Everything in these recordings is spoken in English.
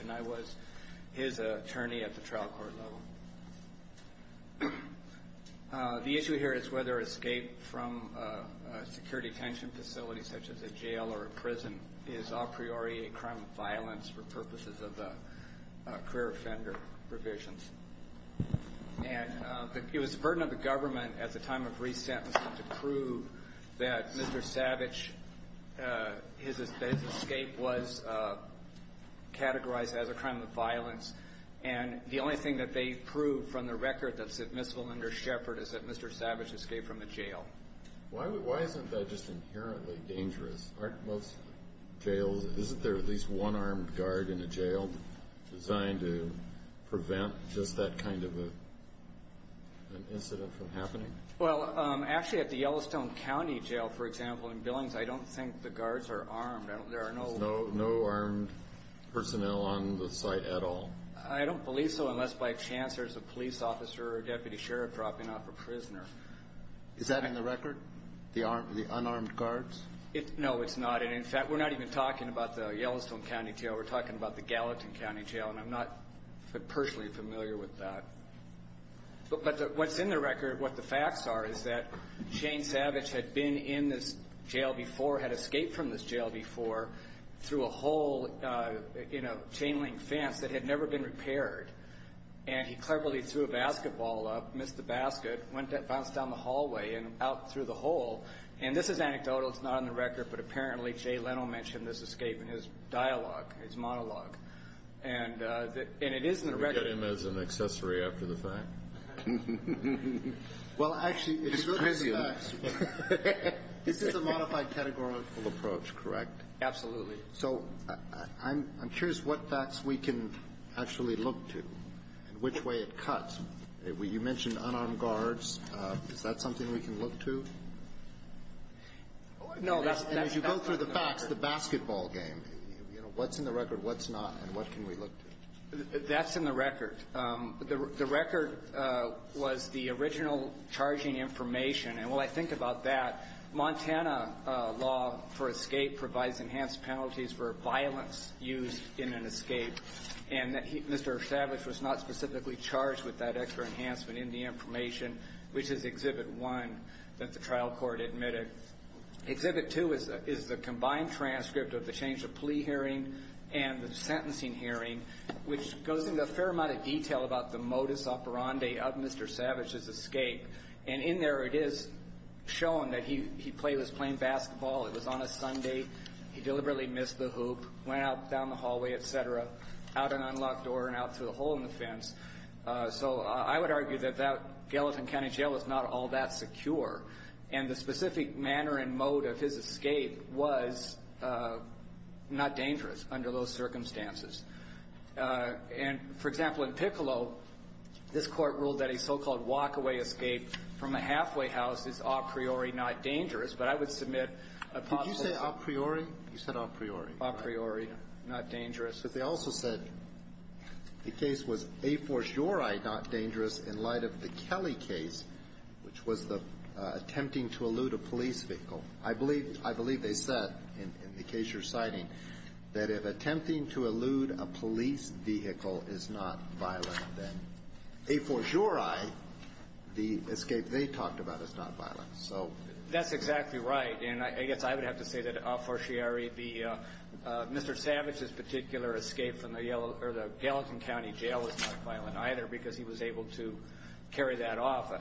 and I was his attorney at the trial court level. The issue here is whether escape from a security detention facility such as a jail or a prison is a priori a crime of violence for purposes of a career offender provisions. And it was the burden of the government at the time of resettlement to make sure that there was a way to get people out of jail. And that's what we're trying to do here. Why isn't that just inherently dangerous? Aren't most jails, isn't there at least one armed guard in a jail designed to prevent just that kind of an incident from happening? Well, actually at the Yellowstone County Jail, for example, in Billings, I don't think the guards are armed. There are no armed personnel on the site at all. I don't believe so unless by chance there's a police officer or deputy sheriff dropping off a prisoner. Is that in the record? The unarmed guards? No, it's not. And in fact, we're not even talking about the Yellowstone County Jail. We're talking about the Gallatin County Jail. And I'm not personally familiar with that. But what's in the record, what the facts are, is that Shane Savage had been in this jail before, had escaped from this jail before through a hole in a chain link fence that had never been repaired. And he cleverly threw a basketball up, missed the basket, bounced down the hallway and out through the hole. And this is anecdotal. It's not on the record, but apparently Jay Leno mentioned this escape in his dialogue, his monologue. And it is in the record. Can we get him as an accessory after the fact? Well, actually, it's really the facts. This is a modified categorical approach, correct? Absolutely. So I'm curious what facts we can actually look to and which way it cuts. You mentioned unarmed guards. Is that something we can look to? No, that's in the record. And as you go through the facts, the basketball game, you know, what's in the record, what's not, and what can we look to? That's in the record. The record was the original charging information. And when I think about that, Montana law for escape provides enhanced penalties for violence used in an escape. And Mr. Savage was not specifically charged with that extra enhancement in the information, which is Exhibit 1, that the trial court admitted. Exhibit 2 is the combined transcript of the change of plea hearing and the sentencing hearing, which goes into a fair amount of detail about the modus operandi of Mr. Savage's escape. And in there, it is shown that he was playing basketball. It was on a Sunday. He deliberately missed the hoop, went out down the hallway, et cetera, out an unlocked door and out through a hole in the fence. So I would argue that that Gallatin County Jail is not all that secure. And the specific manner and mode of his escape was not dangerous under those circumstances. And, for example, in Piccolo, this Court ruled that a so-called walkaway escape from a halfway house is a priori not dangerous. But I would submit a possible conclusion. Alitoson Could you say a priori? You said a priori. Savage A priori, not dangerous. Alitoson But they also said the case was a for jure not dangerous in light of the Kelly case, which was the attempting to elude a police vehicle. I believe they said, in the case you're citing, that if attempting to elude a police vehicle is not violent, then a for jure, the escape they talked about is not violent. So that's exactly right. And I guess I would have to say that a for jure would be Mr. Savage's particular escape from the Gallatin County Jail was not violent either because he was able to carry that off.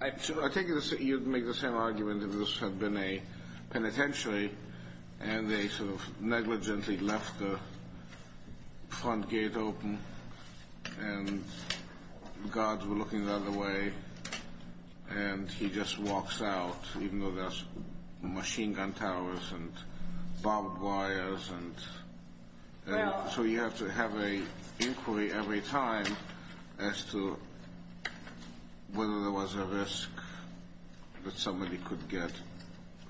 I take it you'd make the same argument if this had been a penitentiary and they sort of negligently left the front gate open and guards were looking the other way and he just walks out, even though there's machine gun towers and barbed wires. So you have to have an inquiry every time as to whether there was a risk that somebody could get.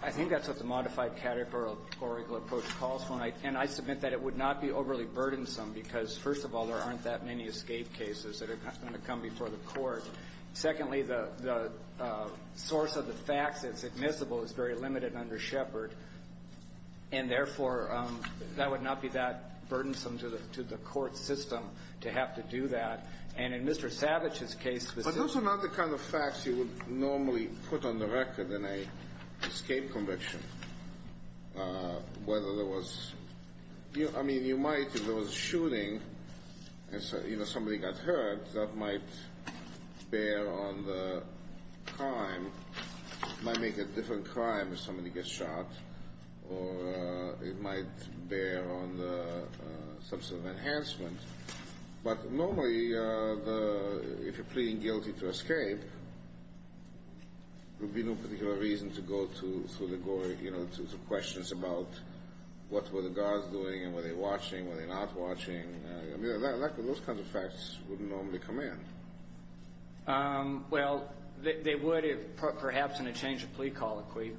I think that's what the modified categorical approach calls for. And I submit that it would not be overly burdensome because, first of all, there aren't that many escape cases that are going to come before the court. Secondly, the source of the facts that's admissible is very limited under Shepard. And, therefore, that would not be that burdensome to the court system to have to do that. And in Mr. Savage's case, specifically… But those are not the kind of facts you would normally put on the record in an escape conviction. I mean, you might, if there was a shooting and somebody got hurt, that might bear on the crime. It might make a different crime if somebody gets shot or it might bear on the substantive enhancement. But, normally, if you're pleading guilty to escape, there would be no particular reason to go through the gore, you know, to questions about what were the guards doing and were they watching, were they not watching. I mean, those kinds of facts wouldn't normally come in. Well, they would, perhaps, in a change of plea colloquy,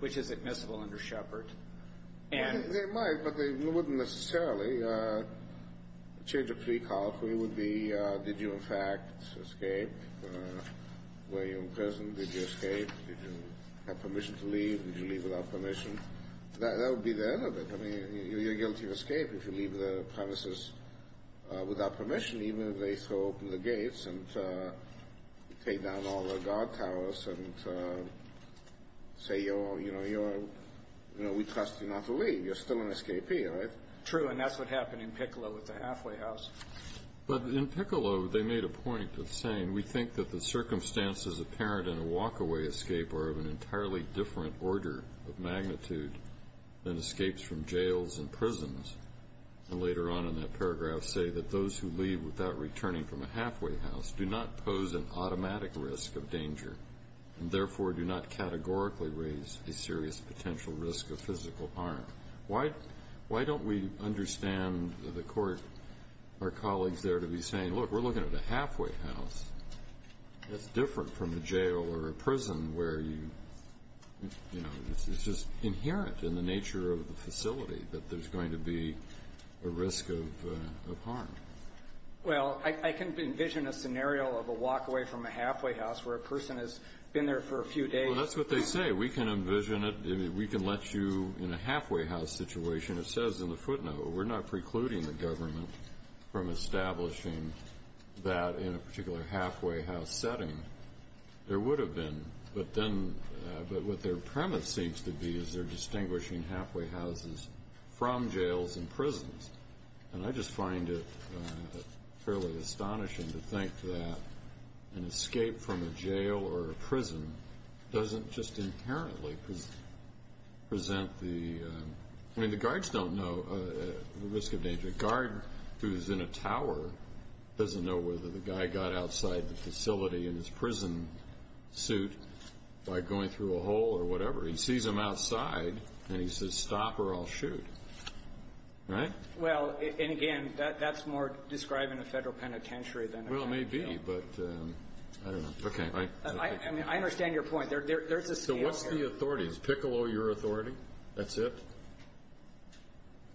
which is admissible under Shepard. They might, but they wouldn't necessarily. A change of plea colloquy would be, did you, in fact, escape? Were you imprisoned? Did you escape? Did you have permission to leave? Did you leave without permission? That would be the end of it. I mean, you're guilty of escape if you leave the premises without permission, even if they throw open the gates and take down all the guard towers and say, you know, we trust you not to leave. You're still an escapee, right? True, and that's what happened in Piccolo with the halfway house. But in Piccolo, they made a point in saying, we think that the circumstances apparent in a walkaway escape are of an entirely different order of magnitude than escapes from jails and prisons. And later on in that paragraph, say that those who leave without returning from a halfway house do not pose an automatic risk of danger and therefore do not categorically raise a serious potential risk of physical harm. Why don't we understand the court, our colleagues there, to be saying, look, we're looking at a halfway house. It's different from a jail or a prison where you, you know, it's just inherent in the nature of the facility that there's going to be a risk of harm. Well, I can envision a scenario of a walkaway from a halfway house where a person has been there for a few days. Well, that's what they say. We can envision it. We can let you, in a halfway house situation, it says in the footnote, we're not precluding the government from establishing that in a particular halfway house setting. There would have been, but then, but what their premise seems to be is they're distinguishing halfway houses from jails and prisons. And I just find it fairly astonishing to think that an escape from a jail or a prison doesn't just inherently present the, I mean, the guards don't know the risk of danger. The guard who's in a tower doesn't know whether the guy got outside the facility in his prison suit by going through a hole or whatever. He sees him outside, and he says, stop or I'll shoot. Right? Well, and again, that's more describing a federal penitentiary than a prison. Well, it may be, but I don't know. Okay. I mean, I understand your point. There's a scale here. So what's the authority? Is Piccolo your authority? That's it?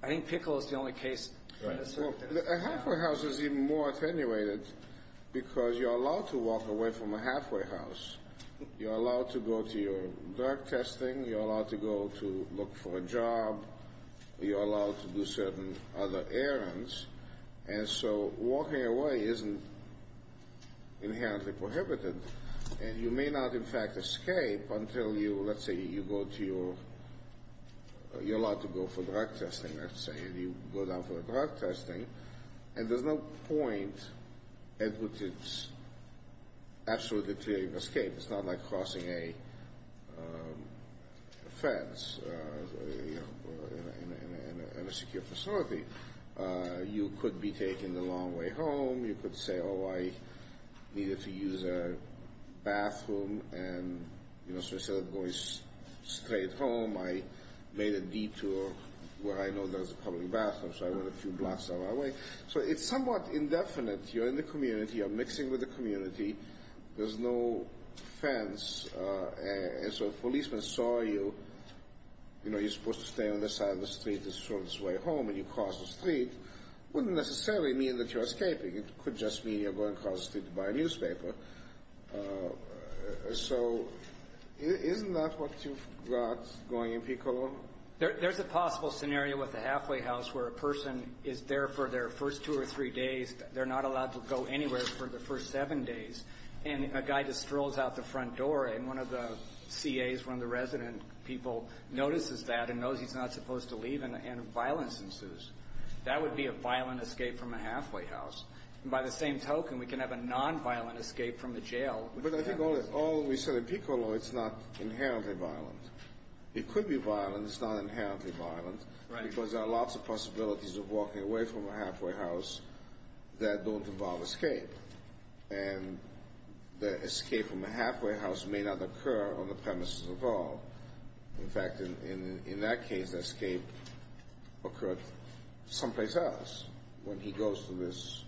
I think Piccolo is the only case. A halfway house is even more attenuated because you're allowed to walk away from a halfway house. You're allowed to go to your drug testing. You're allowed to go to look for a job. You're allowed to do certain other errands. And so walking away isn't inherently prohibited. And you may not, in fact, escape until you, let's say, you go to your, you're allowed to go for drug testing, let's say, and you go down for the drug testing. And there's no point at which it's absolutely deteriorating escape. It's not like crossing a fence in a secure facility. You could be taken the long way home. You could say, oh, I needed to use a bathroom, and, you know, so I started going straight home. I made a detour where I know there's a public bathroom, so I went a few blocks out of my way. So it's somewhat indefinite. You're in the community. You're mixing with the community. There's no fence. And so if a policeman saw you, you know, you're supposed to stay on this side of the street, and you cross the street, it wouldn't necessarily mean that you're escaping. It could just mean you're going across the street to buy a newspaper. So isn't that what you've got, going in people? There's a possible scenario with a halfway house where a person is there for their first two or three days. They're not allowed to go anywhere for the first seven days. And a guy just strolls out the front door, and one of the CAs, one of the resident people, notices that and knows he's not supposed to leave, and violence ensues. That would be a violent escape from a halfway house. And by the same token, we can have a nonviolent escape from the jail. But I think all we said in PICO law, it's not inherently violent. It could be violent. It's not inherently violent. Right. Because there are lots of possibilities of walking away from a halfway house that don't involve escape. And the escape from a halfway house may not occur on the premises of law. In fact, in that case, escape occurred someplace else. When he goes to this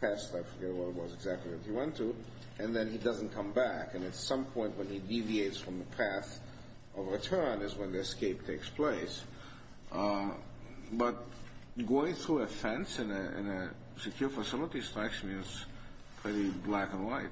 test, I forget what it was exactly that he went to, and then he doesn't come back. And at some point when he deviates from the path of return is when the escape takes place. But going through a fence in a secure facility is actually pretty black and white.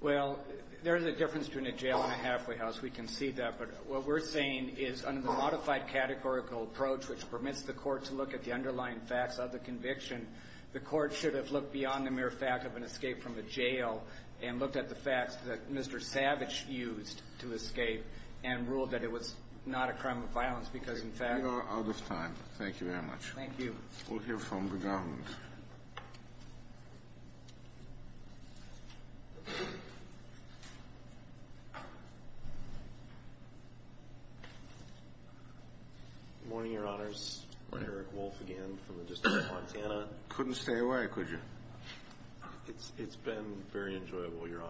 Well, there is a difference between a jail and a halfway house. We can see that. But what we're saying is under the modified categorical approach, which permits the court to look at the underlying facts of the conviction, the court should have looked beyond the mere fact of an escape from a jail and looked at the facts that Mr. Savage used to escape and ruled that it was not a crime of violence because, in fact — We are out of time. Thank you very much. Thank you. We'll hear from the government. Good morning, Your Honors. Good morning. Eric Wolf again from the District of Montana. Couldn't stay away, could you? It's been very enjoyable, Your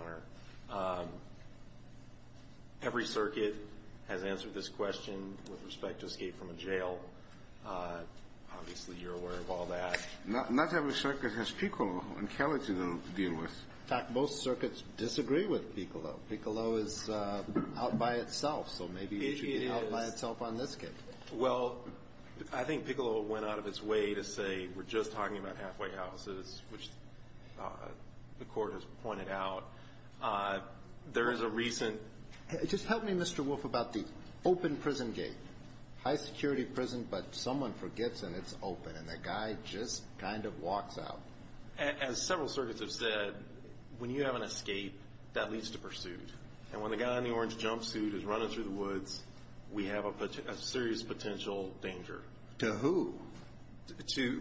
Honor. Obviously you're aware of all that. Not every circuit has Piccolo and Kelly to deal with. In fact, most circuits disagree with Piccolo. Piccolo is out by itself, so maybe it should be out by itself on this case. Well, I think Piccolo went out of its way to say we're just talking about halfway houses, which the court has pointed out. There is a recent — But someone forgets and it's open, and the guy just kind of walks out. As several circuits have said, when you have an escape, that leads to pursuit. And when the guy in the orange jumpsuit is running through the woods, we have a serious potential danger. To who?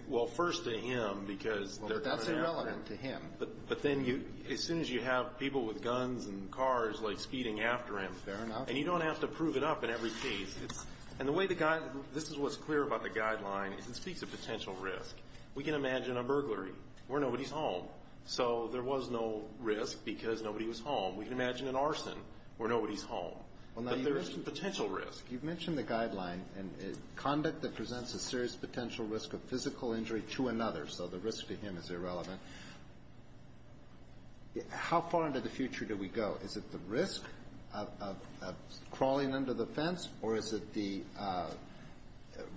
Well, first to him because — Well, that's irrelevant to him. But then as soon as you have people with guns and cars, like, speeding after him — Fair enough. And you don't have to prove it up in every case. And the way the guy — this is what's clear about the guideline is it speaks of potential risk. We can imagine a burglary where nobody's home. So there was no risk because nobody was home. We can imagine an arson where nobody's home. But there is some potential risk. You've mentioned the guideline. Conduct that presents a serious potential risk of physical injury to another, so the risk to him is irrelevant. How far into the future do we go? Is it the risk of crawling under the fence, or is it the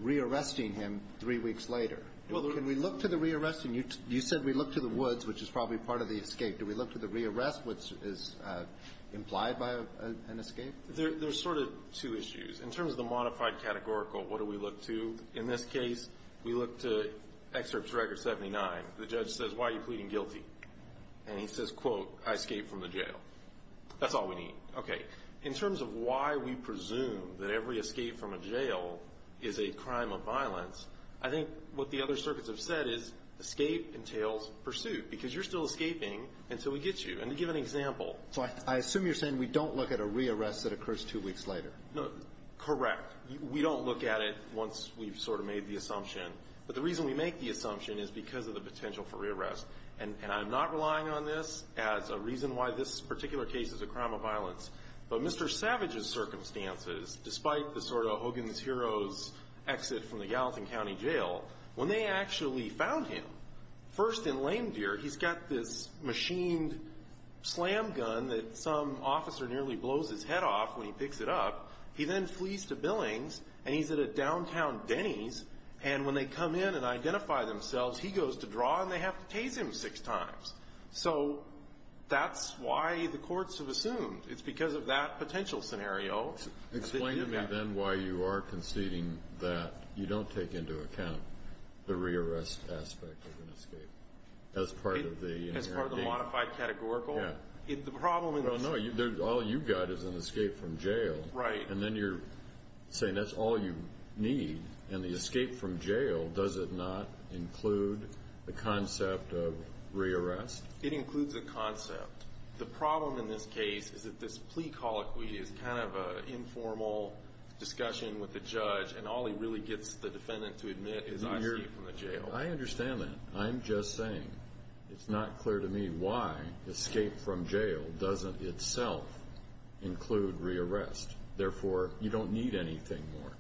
rearresting him three weeks later? Can we look to the rearresting? You said we look to the woods, which is probably part of the escape. Do we look to the rearrest, which is implied by an escape? There's sort of two issues. In terms of the modified categorical, what do we look to? In this case, we look to Excerpts Record 79. The judge says, why are you pleading guilty? And he says, quote, I escaped from the jail. That's all we need. Okay. In terms of why we presume that every escape from a jail is a crime of violence, I think what the other circuits have said is escape entails pursuit because you're still escaping until we get you. And to give an example. So I assume you're saying we don't look at a rearrest that occurs two weeks later. Correct. We don't look at it once we've sort of made the assumption. But the reason we make the assumption is because of the potential for rearrest. And I'm not relying on this as a reason why this particular case is a crime of violence. But Mr. Savage's circumstances, despite the sort of Hogan's Heroes exit from the Gallatin County Jail, when they actually found him, first in lame deer. He's got this machined slam gun that some officer nearly blows his head off when he picks it up. He then flees to Billings, and he's at a downtown Denny's. And when they come in and identify themselves, he goes to draw, and they have to tase him six times. So that's why the courts have assumed. It's because of that potential scenario. Explain to me then why you are conceding that you don't take into account the rearrest aspect of an escape as part of the... As part of the modified categorical. Yeah. The problem is... No, no. All you've got is an escape from jail. Right. And then you're saying that's all you need. And the escape from jail, does it not include the concept of rearrest? It includes a concept. The problem in this case is that this plea colloquy is kind of an informal discussion with the judge, and all he really gets the defendant to admit is an escape from the jail. I understand that. I'm just saying it's not clear to me why escape from jail doesn't itself include rearrest. Therefore, you don't need anything more.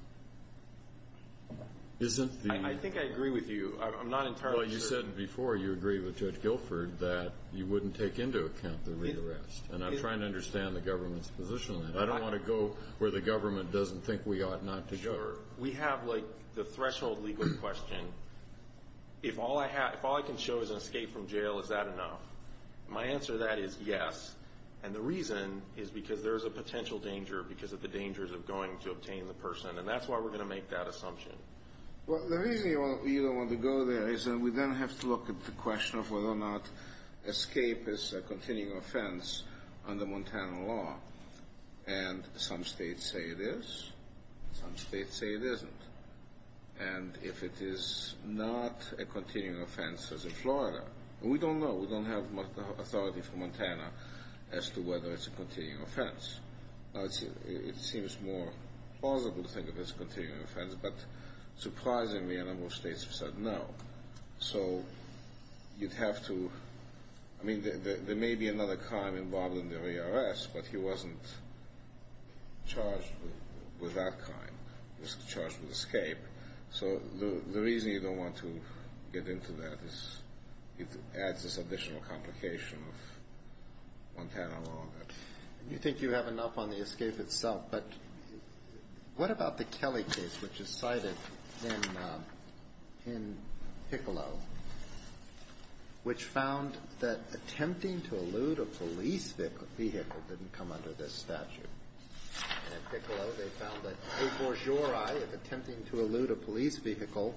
Isn't the... I think I agree with you. I'm not entirely sure. Well, you said before you agree with Judge Guilford that you wouldn't take into account the rearrest. And I'm trying to understand the government's position on that. I don't want to go where the government doesn't think we ought not to go. Sure. We have, like, the threshold legal question. If all I can show is an escape from jail, is that enough? My answer to that is yes. And the reason is because there is a potential danger because of the dangers of going to obtain the person, and that's why we're going to make that assumption. Well, the reason you don't want to go there is that we then have to look at the question of whether or not escape is a continuing offense under Montana law. And some states say it is. Some states say it isn't. And if it is not a continuing offense as in Florida, we don't know. We don't have authority from Montana as to whether it's a continuing offense. Now, it seems more plausible to think of it as a continuing offense, but surprisingly a number of states have said no. So you'd have to – I mean, there may be another crime involved in the rearrest, but he wasn't charged with that crime. He was charged with escape. So the reason you don't want to get into that is it adds this additional complication of Montana law. You think you have enough on the escape itself, but what about the Kelly case, which is cited in Piccolo, which found that attempting to elude a police vehicle didn't come under this statute? And in Piccolo, they found that au forgery, if attempting to elude a police vehicle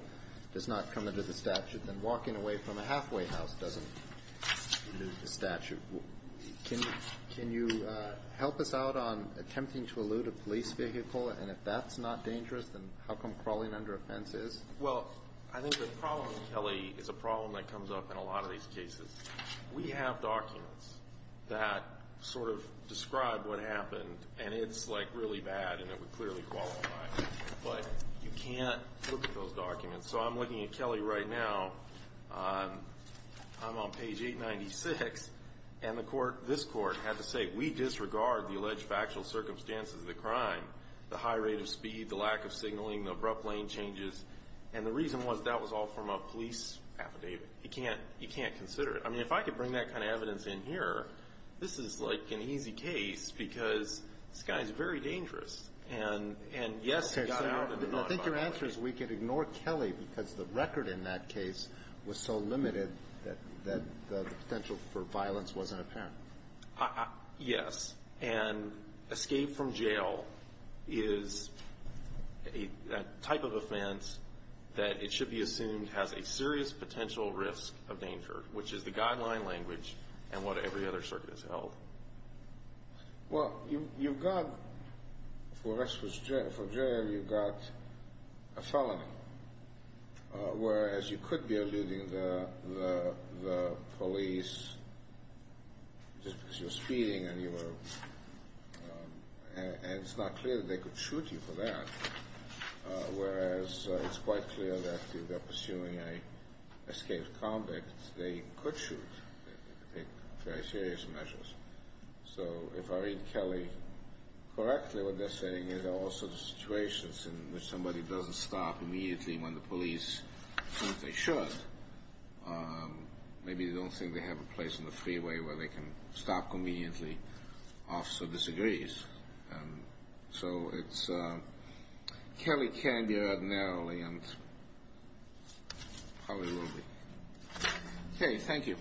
does not come under the statute, then walking away from a halfway house doesn't elude the statute. Can you help us out on attempting to elude a police vehicle, and if that's not dangerous, then how come crawling under a fence is? Well, I think the problem with Kelly is a problem that comes up in a lot of these cases. We have documents that sort of describe what happened, and it's, like, really bad, and it would clearly qualify, but you can't look at those documents. So I'm looking at Kelly right now. I'm on page 896, and this court had to say, we disregard the alleged factual circumstances of the crime, the high rate of speed, the lack of signaling, the abrupt lane changes. And the reason was that was all from a police affidavit. You can't consider it. I mean, if I could bring that kind of evidence in here, this is, like, an easy case because this guy is very dangerous. And, yes, he got out and did not violate it. I think your answer is we could ignore Kelly because the record in that case was so limited that the potential for violence wasn't apparent. Yes. And escape from jail is a type of offense that it should be assumed has a serious potential risk of danger, which is the guideline language and what every other circuit has held. Well, you've got, for escape from jail, you've got a felony, whereas you could be alluding the police just because you were speeding and it's not clear that they could shoot you for that, whereas it's quite clear that if they're pursuing an escape convict, they could shoot in very serious measures. So if I read Kelly correctly, what they're saying is there are all sorts of situations in which somebody doesn't stop immediately when the police think they should. Maybe they don't think they have a place on the freeway where they can stop conveniently. Officer disagrees. So it's Kelly can be read narrowly and probably will be. Okay, thank you.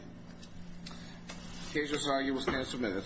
The case is argued and submitted.